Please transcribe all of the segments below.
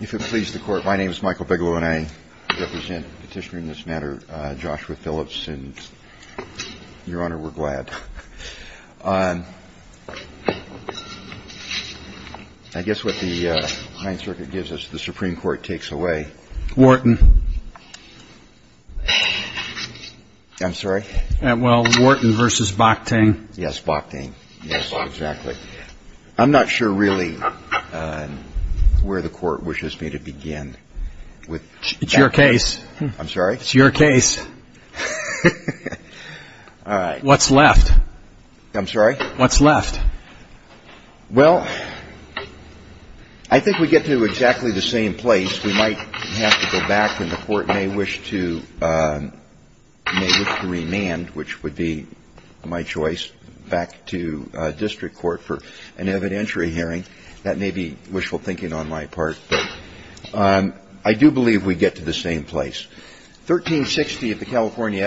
If it pleases the court, my name is Michael Bigelow and I represent Petitioner in this matter, Joshua Phillips, and Your Honor, we're glad. I guess what the Ninth Circuit gives us, the Supreme Court takes away. Wharton. I'm sorry? Well, Wharton v. Bockting. Yes, Bockting. Yes, exactly. I'm not sure really where the court wishes me to begin. It's your case. I'm sorry? It's your case. All right. What's left? I'm sorry? What's left? Well, I think we get to exactly the same place. I guess we might have to go back and the court may wish to remand, which would be my choice, back to district court for an evidentiary hearing. That may be wishful thinking on my part. I do believe we get to the same place. Your Honor, I don't think it would be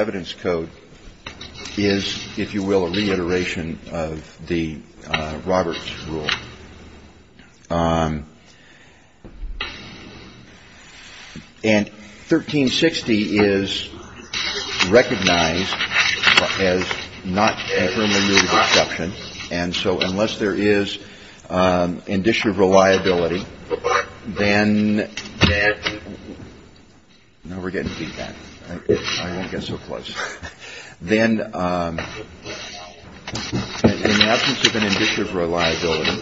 bad. I wouldn't get so close. Then in the absence of an indicative reliability,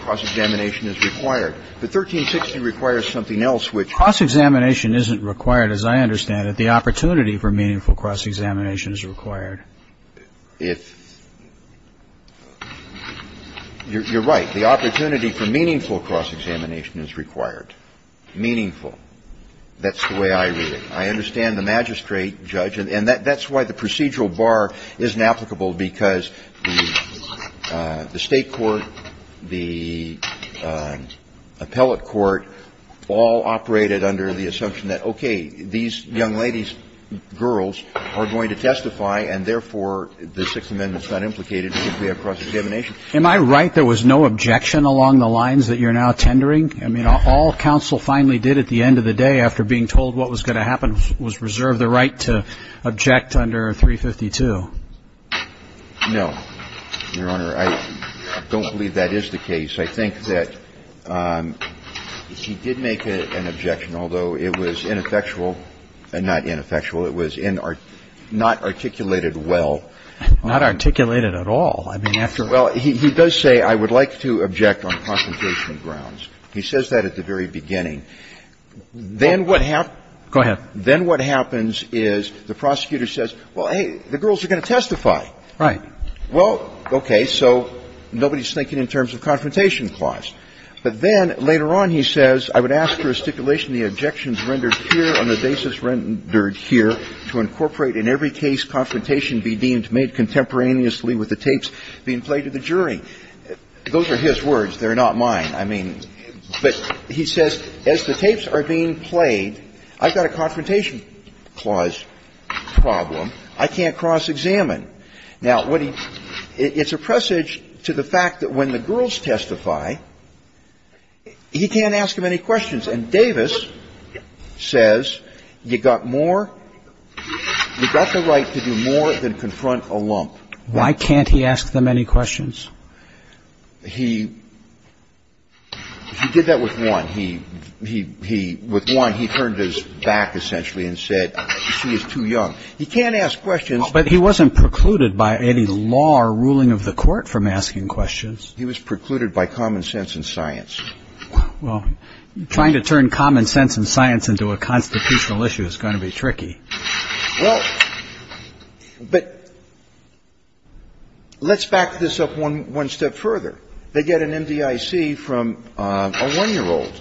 cross-examination is required. The 1360 requires something else, which youCHEERING cross-examination isn't required, because I understand that the opportunity for meaningful cross-examination is required. If you're right, the opportunity for meaningful cross-examination is required. Meaningful. That's the way I read it. I understand the magistrate, judge, and that's why the procedural bar isn't applicable, because the State court, the appellate court all operated under the assumption that, okay, these young ladies, girls, are going to testify, and therefore, the Sixth Amendment's not implicated if we have cross-examination. Am I right there was no objection along the lines that you're now tendering? I mean, all counsel finally did at the end of the day after being told what was going to happen was reserve the right to object under 352. No, Your Honor. I don't believe that is the case. I think that he did make an objection, although it was ineffectual. Not ineffectual. It was not articulated well. Not articulated at all. I mean, after all. Well, he does say, I would like to object on consultation grounds. He says that at the very beginning. Then what happened. Go ahead. Then what happens is the prosecutor says, well, hey, the girls are going to testify. Right. Well, okay. So nobody's thinking in terms of confrontation clause. But then later on he says, I would ask for a stipulation the objections rendered here on the basis rendered here to incorporate in every case confrontation be deemed made contemporaneously with the tapes being played to the jury. Those are his words. They're not mine. I mean, but he says as the tapes are being played, I've got a confrontation clause problem. I can't cross-examine. Now, it's a presage to the fact that when the girls testify, he can't ask them any questions. And Davis says you got more you got the right to do more than confront a lump. Why can't he ask them any questions? He did that with one. He with one he turned his back essentially and said she is too young. He can't ask questions. But he wasn't precluded by any law or ruling of the court from asking questions. He was precluded by common sense and science. Well, trying to turn common sense and science into a constitutional issue is going to be tricky. Well, but let's back this up one step further. They get an MDIC from a one-year-old.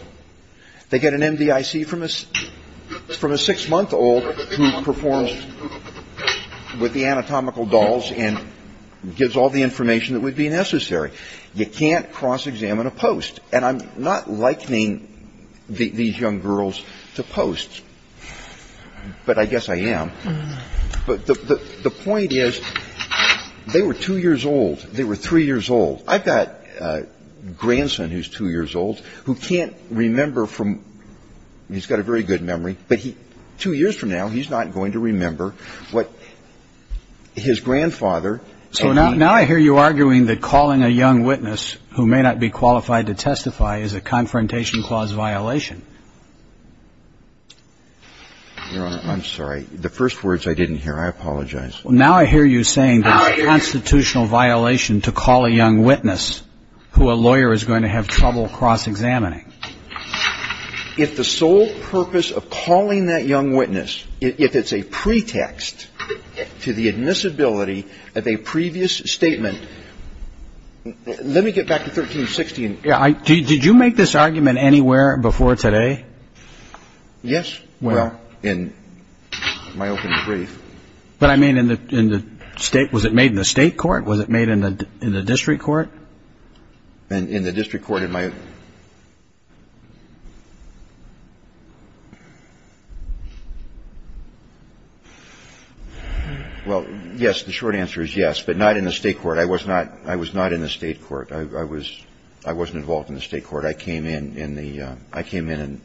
They get an MDIC from a six-month-old who performs with the anatomical dolls and gives all the information that would be necessary. You can't cross-examine a post. And I'm not likening these young girls to posts. But I guess I am. But the point is they were two years old. They were three years old. I've got a grandson who's two years old who can't remember from he's got a very good memory, but two years from now he's not going to remember what his grandfather. So now I hear you arguing that calling a young witness who may not be qualified to testify is a confrontation clause violation. Your Honor, I'm sorry. The first words I didn't hear. I apologize. Well, now I hear you saying that it's a constitutional violation to call a young witness who a lawyer is going to have trouble cross-examining. If the sole purpose of calling that young witness, if it's a pretext to the admissibility of a previous statement, let me get back to 1360. I mean, did you make this argument anywhere before today? Yes. Well, in my open brief. But, I mean, in the state, was it made in the state court? Was it made in the district court? In the district court in my. Well, yes. The short answer is yes, but not in the state court. I was not in the state court. I was, I wasn't involved in the state court. I came in in the, I came in and.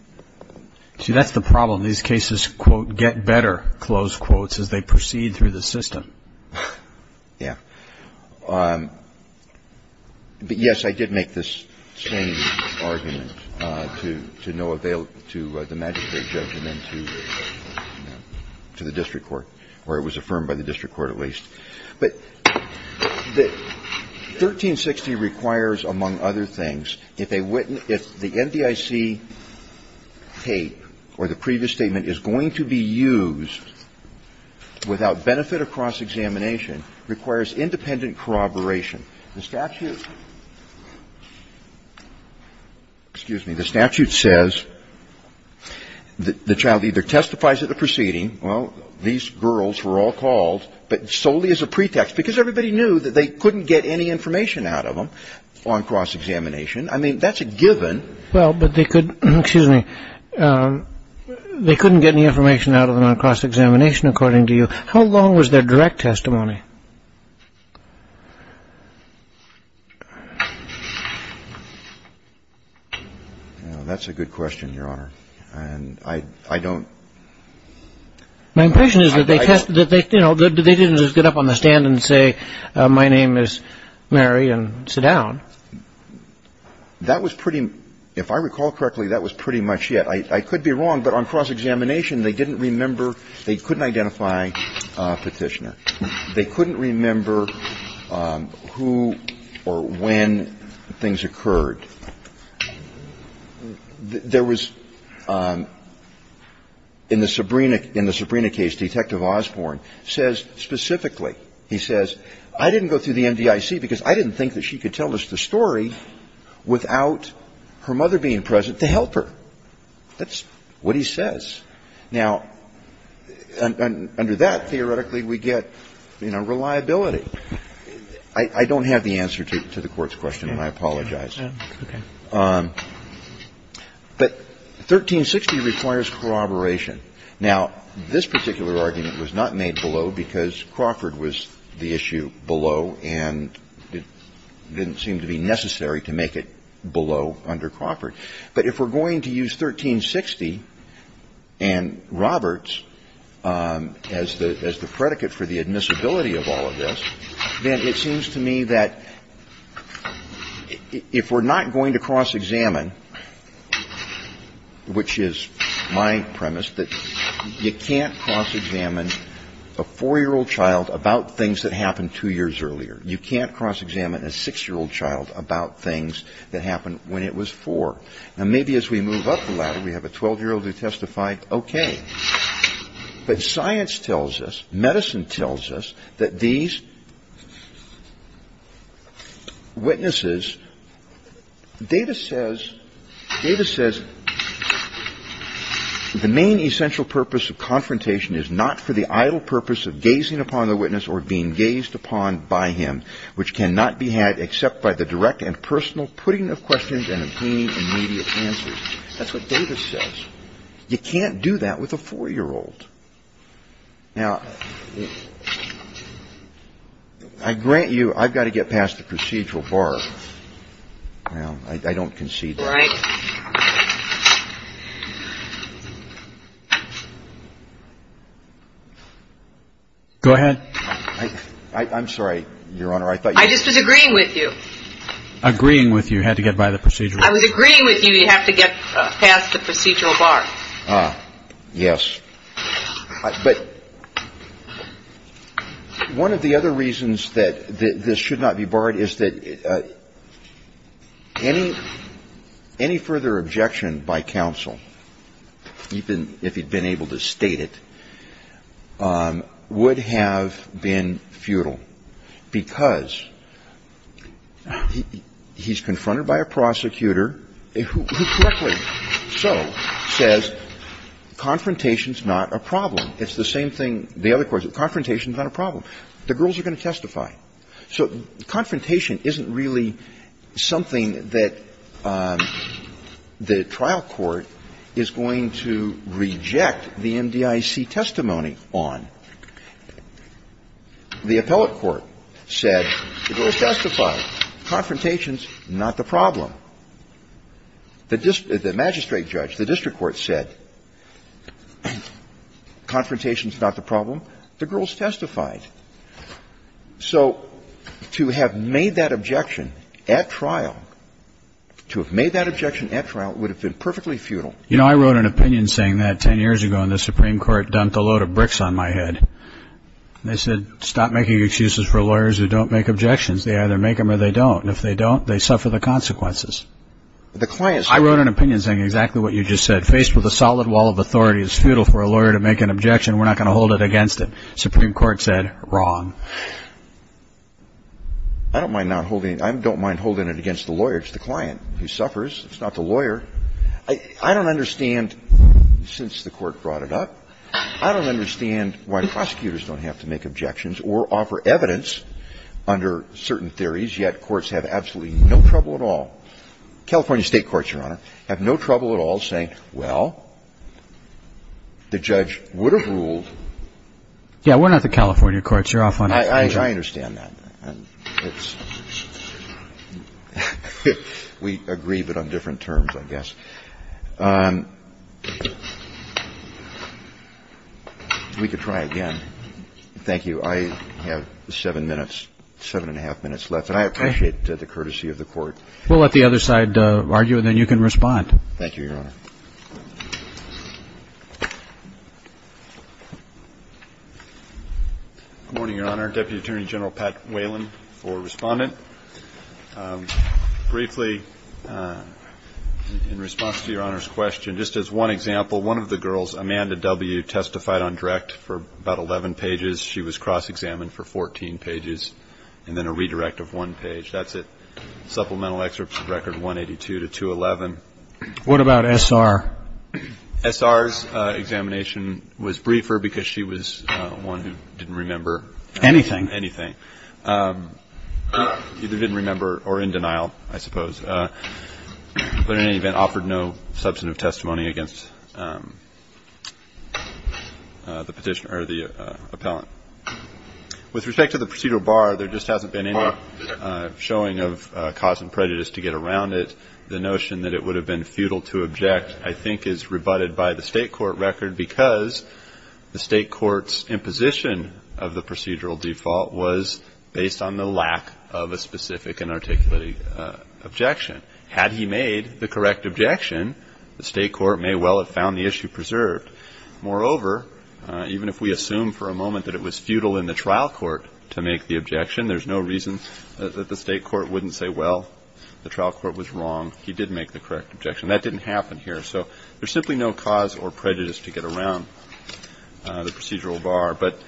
See, that's the problem. These cases, quote, get better, close quotes, as they proceed through the system. Yeah. But, yes, I did make this same argument to no avail to the magistrate judgment to the district court, or it was affirmed by the district court at least. But the 1360 requires, among other things, if they wouldn't, if the NDIC tape or the previous statement is going to be used without benefit of cross-examination, requires independent corroboration. The statute, excuse me, the statute says that the child either testifies at the proceeding, And the child testifies at the proceeding. Well, these girls were all called, but solely as a pretext, because everybody knew that they couldn't get any information out of them on cross-examination. I mean, that's a given. Well, but they could, excuse me, they couldn't get any information out of them on cross-examination, according to you. How long was their direct testimony? Well, that's a good question, Your Honor. And I don't. My impression is that they, you know, they didn't just get up on the stand and say, my name is Mary and sit down. That was pretty, if I recall correctly, that was pretty much it. I could be wrong, but on cross-examination, they didn't remember, they couldn't identify Petitioner. They couldn't remember who or when things occurred. There was, in the Sabrina case, Detective Osborne says specifically, he says, I didn't go through the MDIC because I didn't think that she could tell us the story without her mother being present to help her. That's what he says. Now, under that, theoretically, we get, you know, reliability. I don't have the answer to the Court's question, and I apologize. But 1360 requires corroboration. Now, this particular argument was not made below because Crawford was the issue below, and it didn't seem to be necessary to make it below under Crawford. But if we're going to use 1360 and Roberts as the predicate for the admissibility of all of this, then it seems to me that if we're not going to cross-examine, which is my premise, that you can't cross-examine a 4-year-old child about things that happened 2 years earlier. You can't cross-examine a 6-year-old child about things that happened when it was 4. Now, maybe as we move up the ladder, we have a 12-year-old who testified, okay. But science tells us, medicine tells us that these witnesses, Davis says the main essential purpose of confrontation is not for the idle purpose of gazing upon the witness or being gazed upon by him, which cannot be had except by the direct and personal putting of questions and obtaining immediate answers. That's what Davis says. You can't do that with a 4-year-old. Now, I grant you I've got to get past the procedural bar. Well, I don't concede that. Go ahead. I'm sorry, your Honor. I just was agreeing with you. Agreeing with you, had to get by the procedural. I was agreeing with you, you have to get past the procedural bar. Yes. But one of the other reasons this should not be barred is that any, any further objection by counsel, even if he'd been able to state it, would have been futile. Because he's confronted by a prosecutor who correctly so says, confrontation's not a problem. It's the same thing, the other question, confrontation's not a problem. The girls are going to testify. So confrontation isn't really something that the trial court is going to reject the MDIC testimony on. The appellate court said the girls testified. Confrontation's not the problem. The magistrate judge, the district court said confrontation's not the problem. The girls testified. So to have made that objection at trial, to have made that objection at trial would have been perfectly futile. You know, I wrote an opinion saying that 10 years ago and the Supreme Court dumped a load of bricks on my head. They said stop making excuses for lawyers who don't make objections. They either make them or they don't. And if they don't, they suffer the consequences. I wrote an opinion saying exactly what you just said. Faced with a solid wall of authority, it's futile for a lawyer to make an objection. We're not going to hold it against him. Supreme Court said wrong. I don't mind not holding it. I don't mind holding it against the lawyer. It's the client who suffers. It's not the lawyer. I don't understand, since the Court brought it up, I don't understand why prosecutors don't have to make objections or offer evidence under certain theories, yet courts have absolutely no trouble at all. California State courts, Your Honor, have no trouble at all saying, well, the judge would have ruled. Yeah, we're not the California courts. You're off on that. I understand that. We agree, but on different terms, I guess. We could try again. Thank you. I have seven minutes, seven and a half minutes left. And I appreciate the courtesy of the Court. We'll let the other side argue and then you can respond. Thank you, Your Honor. Good morning, Your Honor. Deputy Attorney General Pat Whalen, for Respondent. Briefly, in response to Your Honor's question, just as one example, one of the girls, Amanda W., testified on direct for about 11 pages. She was cross-examined for 14 pages and then a redirect of one page. That's it. Supplemental excerpts record 182 to 211. What about S.R.? S.R.'s examination was briefer because she was one who didn't remember anything. Anything. Either didn't remember or in denial, I suppose, but in any event offered no substantive testimony against the petitioner or the appellant. With respect to the procedural bar, there just hasn't been any showing of cause and prejudice to get around it, and the notion that it would have been futile to object, I think, is rebutted by the State court record because the State court's imposition of the procedural default was based on the lack of a specific and articulating objection. Had he made the correct objection, the State court may well have found the issue preserved. Moreover, even if we assume for a moment that it was futile in the trial court to make the objection, there's no reason that the State court wouldn't say, well, the trial court was wrong. He did make the correct objection. That didn't happen here. So there's simply no cause or prejudice to get around the procedural bar. But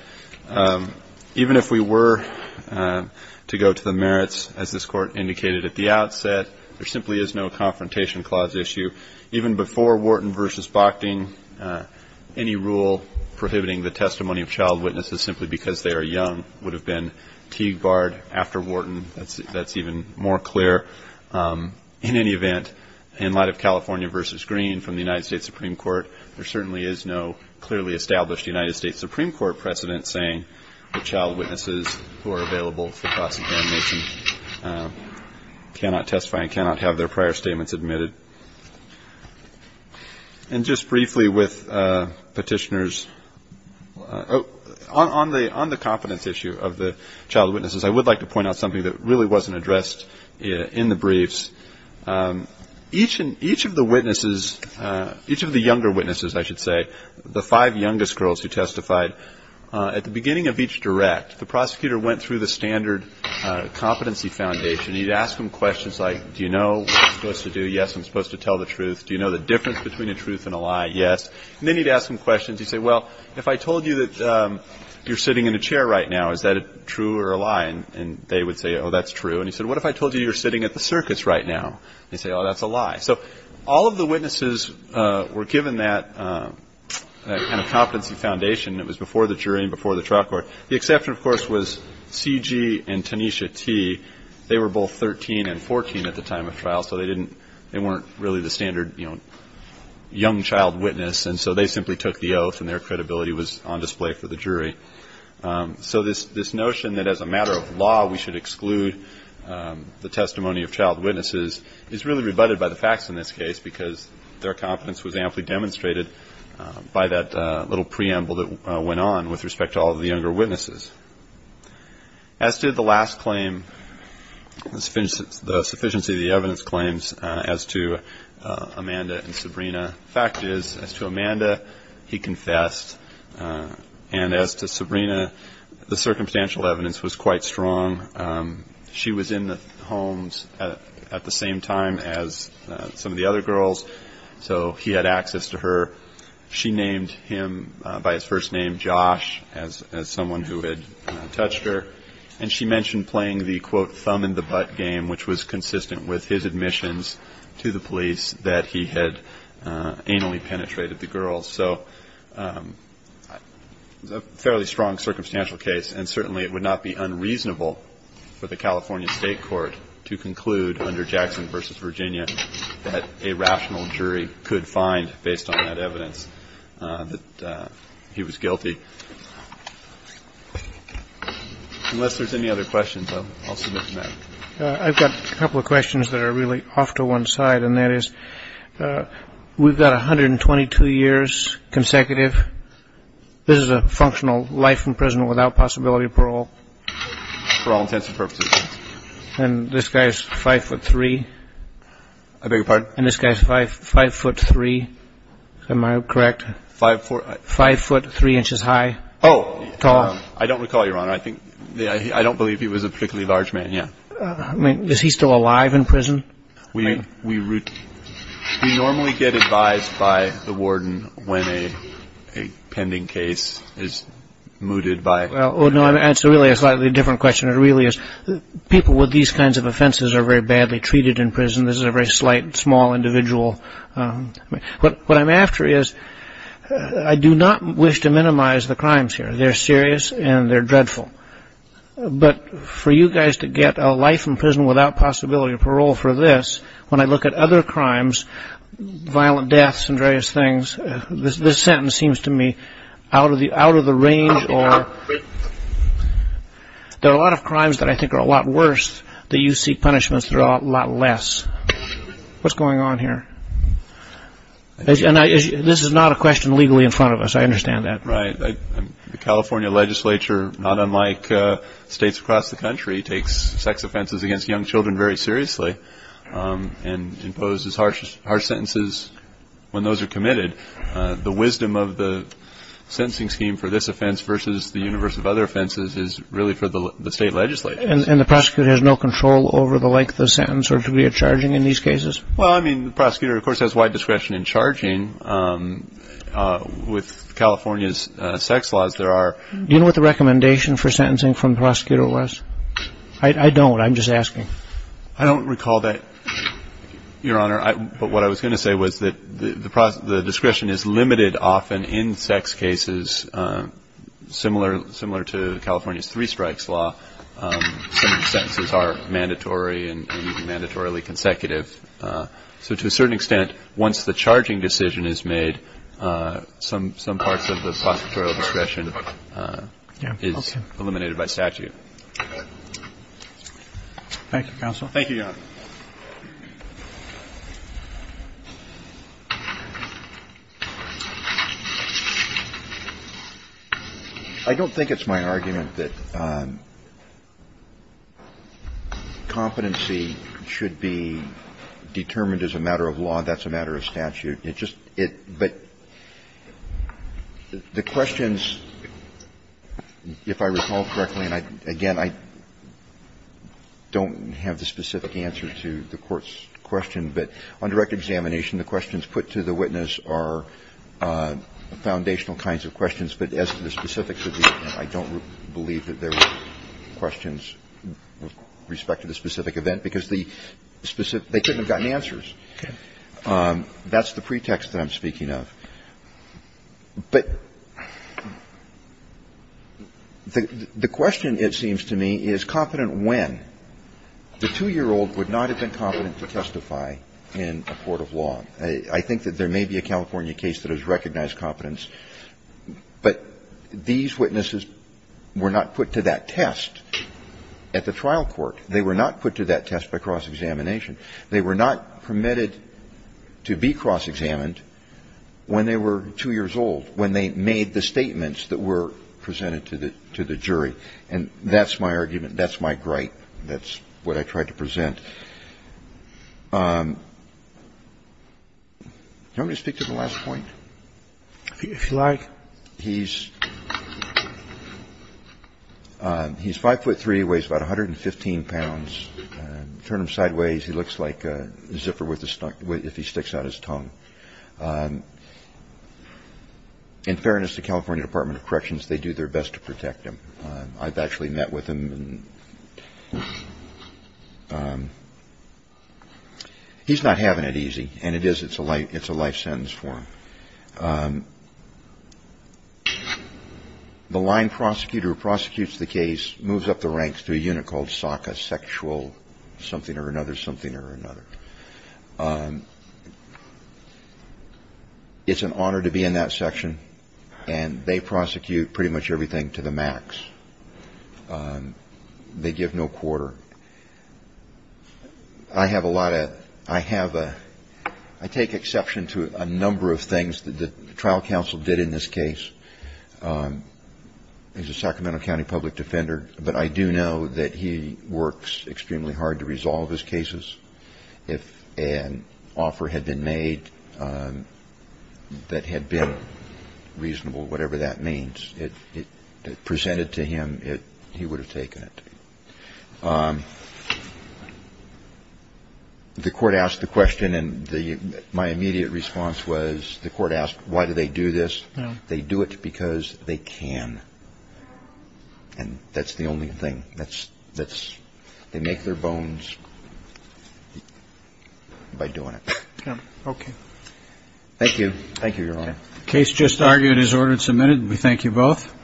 even if we were to go to the merits, as this Court indicated at the outset, there simply is no confrontation clause issue. Even before Wharton v. Bochting, any rule prohibiting the testimony of child witnesses simply because they are young would have been Teague-barred after Wharton. That's even more clear. In any event, in light of California v. Green from the United States Supreme Court, there certainly is no clearly established United States Supreme Court precedent saying that child witnesses who are available for prosecution cannot testify and cannot have their prior statements admitted. And just briefly with Petitioners, on the competence issue of the child witnesses, I would like to point out something that really wasn't addressed in the briefs. Each of the witnesses, each of the younger witnesses, I should say, the five youngest girls who testified, at the beginning of each direct, the prosecutor went through the standard competency foundation. He'd ask them questions like, do you know what you're supposed to do? Yes, I'm supposed to tell the truth. Do you know the difference between a truth and a lie? Yes. And then he'd ask them questions. He'd say, well, if I told you that you're sitting in a chair right now, is that true or a lie? And they would say, oh, that's true. And he said, what if I told you you're sitting at the circus right now? They'd say, oh, that's a lie. So all of the witnesses were given that kind of competency foundation. It was before the jury and before the trial court. The exception, of course, was C.G. and Tanisha T. They were both 13 and 14 at the time of trial, so they weren't really the standard young child witness, and so they simply took the oath and their credibility was on display for the jury. So this notion that as a matter of law, we should exclude the testimony of child witnesses is really rebutted by the facts in this case because their competence was amply demonstrated by that little preamble that went on with respect to all of the younger witnesses. As to the last claim, the sufficiency of the evidence claims as to Amanda and Sabrina, the fact is, as to Amanda, he confessed, and as to Sabrina, the circumstantial evidence was quite strong. She was in the homes at the same time as some of the other girls, so he had access to her. She named him by his first name, Josh, as someone who had touched her. And she mentioned playing the, quote, thumb-in-the-butt game, which was consistent with his admissions to the police, that he had anally penetrated the girls. So it was a fairly strong circumstantial case, and certainly it would not be unreasonable for the California State Court to conclude under Jackson v. that a rational jury could find, based on that evidence, that he was guilty. Unless there's any other questions, I'll submit to that. I've got a couple of questions that are really off to one side, and that is, we've got 122 years consecutive. This is a functional life in prison without possibility of parole? For all intents and purposes, yes. And this guy is 5'3"? I beg your pardon? And this guy is 5'3"? Am I correct? 5'4"? 5'3"? Oh, I don't recall, Your Honor. I don't believe he was a particularly large man, yeah. I mean, is he still alive in prison? We normally get advised by the warden when a pending case is mooted by— Well, no, it's really a slightly different question. It really is. People with these kinds of offenses are very badly treated in prison. This is a very slight, small individual. What I'm after is, I do not wish to minimize the crimes here. They're serious and they're dreadful. But for you guys to get a life in prison without possibility of parole for this, when I look at other crimes, violent deaths and various things, this sentence seems to me out of the range. There are a lot of crimes that I think are a lot worse, that you see punishments that are a lot less. What's going on here? This is not a question legally in front of us. I understand that. Right. The California legislature, not unlike states across the country, takes sex offenses against young children very seriously and imposes harsh sentences when those are committed. The wisdom of the sentencing scheme for this offense versus the universe of other offenses is really for the state legislature. And the prosecutor has no control over the length of the sentence or degree of charging in these cases? The prosecutor, of course, has wide discretion in charging. With California's sex laws, there are— Do you know what the recommendation for sentencing from the prosecutor was? I don't. I'm just asking. I don't recall that, Your Honor. But what I was going to say was that the discretion is limited often in sex cases. Similar to California's three strikes law, some sentences are mandatory and even mandatorily consecutive. So to a certain extent, once the charging decision is made, some parts of the prosecutorial discretion is eliminated by statute. Thank you, counsel. Thank you, Your Honor. I don't think it's my argument that competency should be determined as a matter of law. That's a matter of statute. But the questions, if I recall correctly, and again, I don't have the specific answer to the Court's question, but on direct examination, the questions put to the witness are foundational kinds of questions. But as to the specifics of the event, I don't believe that there were questions with respect to the specific event, because they couldn't have gotten answers. That's the pretext that I'm speaking of. But the question, it seems to me, is competent when? The 2-year-old would not have been competent to testify in a court of law. I think that there may be a California case that has recognized competence, but these witnesses were not put to that test at the trial court. They were not put to that test by cross-examination. They were not permitted to be cross-examined when they were 2 years old, when they made the statements that were presented to the jury. And that's my argument. That's my gripe. That's what I tried to present. Do you want me to speak to the last point? If you like. He's 5'3", weighs about 115 pounds. Turn him sideways, he looks like a zipper if he sticks out his tongue. In fairness to California Department of Corrections, they do their best to protect him. I've actually met with him. He's not having it easy, and it is, it's a life sentence for him. The line prosecutor who prosecutes the case moves up the ranks to a unit called SACA, sexual something or another, something or another. It's an honor to be in that section, and they prosecute pretty much everything to the max. They give no quarter. I have a lot of, I have a, I take exception to a number of things that the trial counsel did in this case. He's a Sacramento County public defender, but I do know that he works extremely hard to resolve his cases. If an offer had been made that had been reasonable, whatever that means, presented to him, he would have taken it. The court asked the question, and my immediate response was, the court asked, why do they do this? They do it because they can, and that's the only thing. That's, they make their bones by doing it. Thank you. Thank you, Your Honor. Case just argued is ordered and submitted. We thank you both.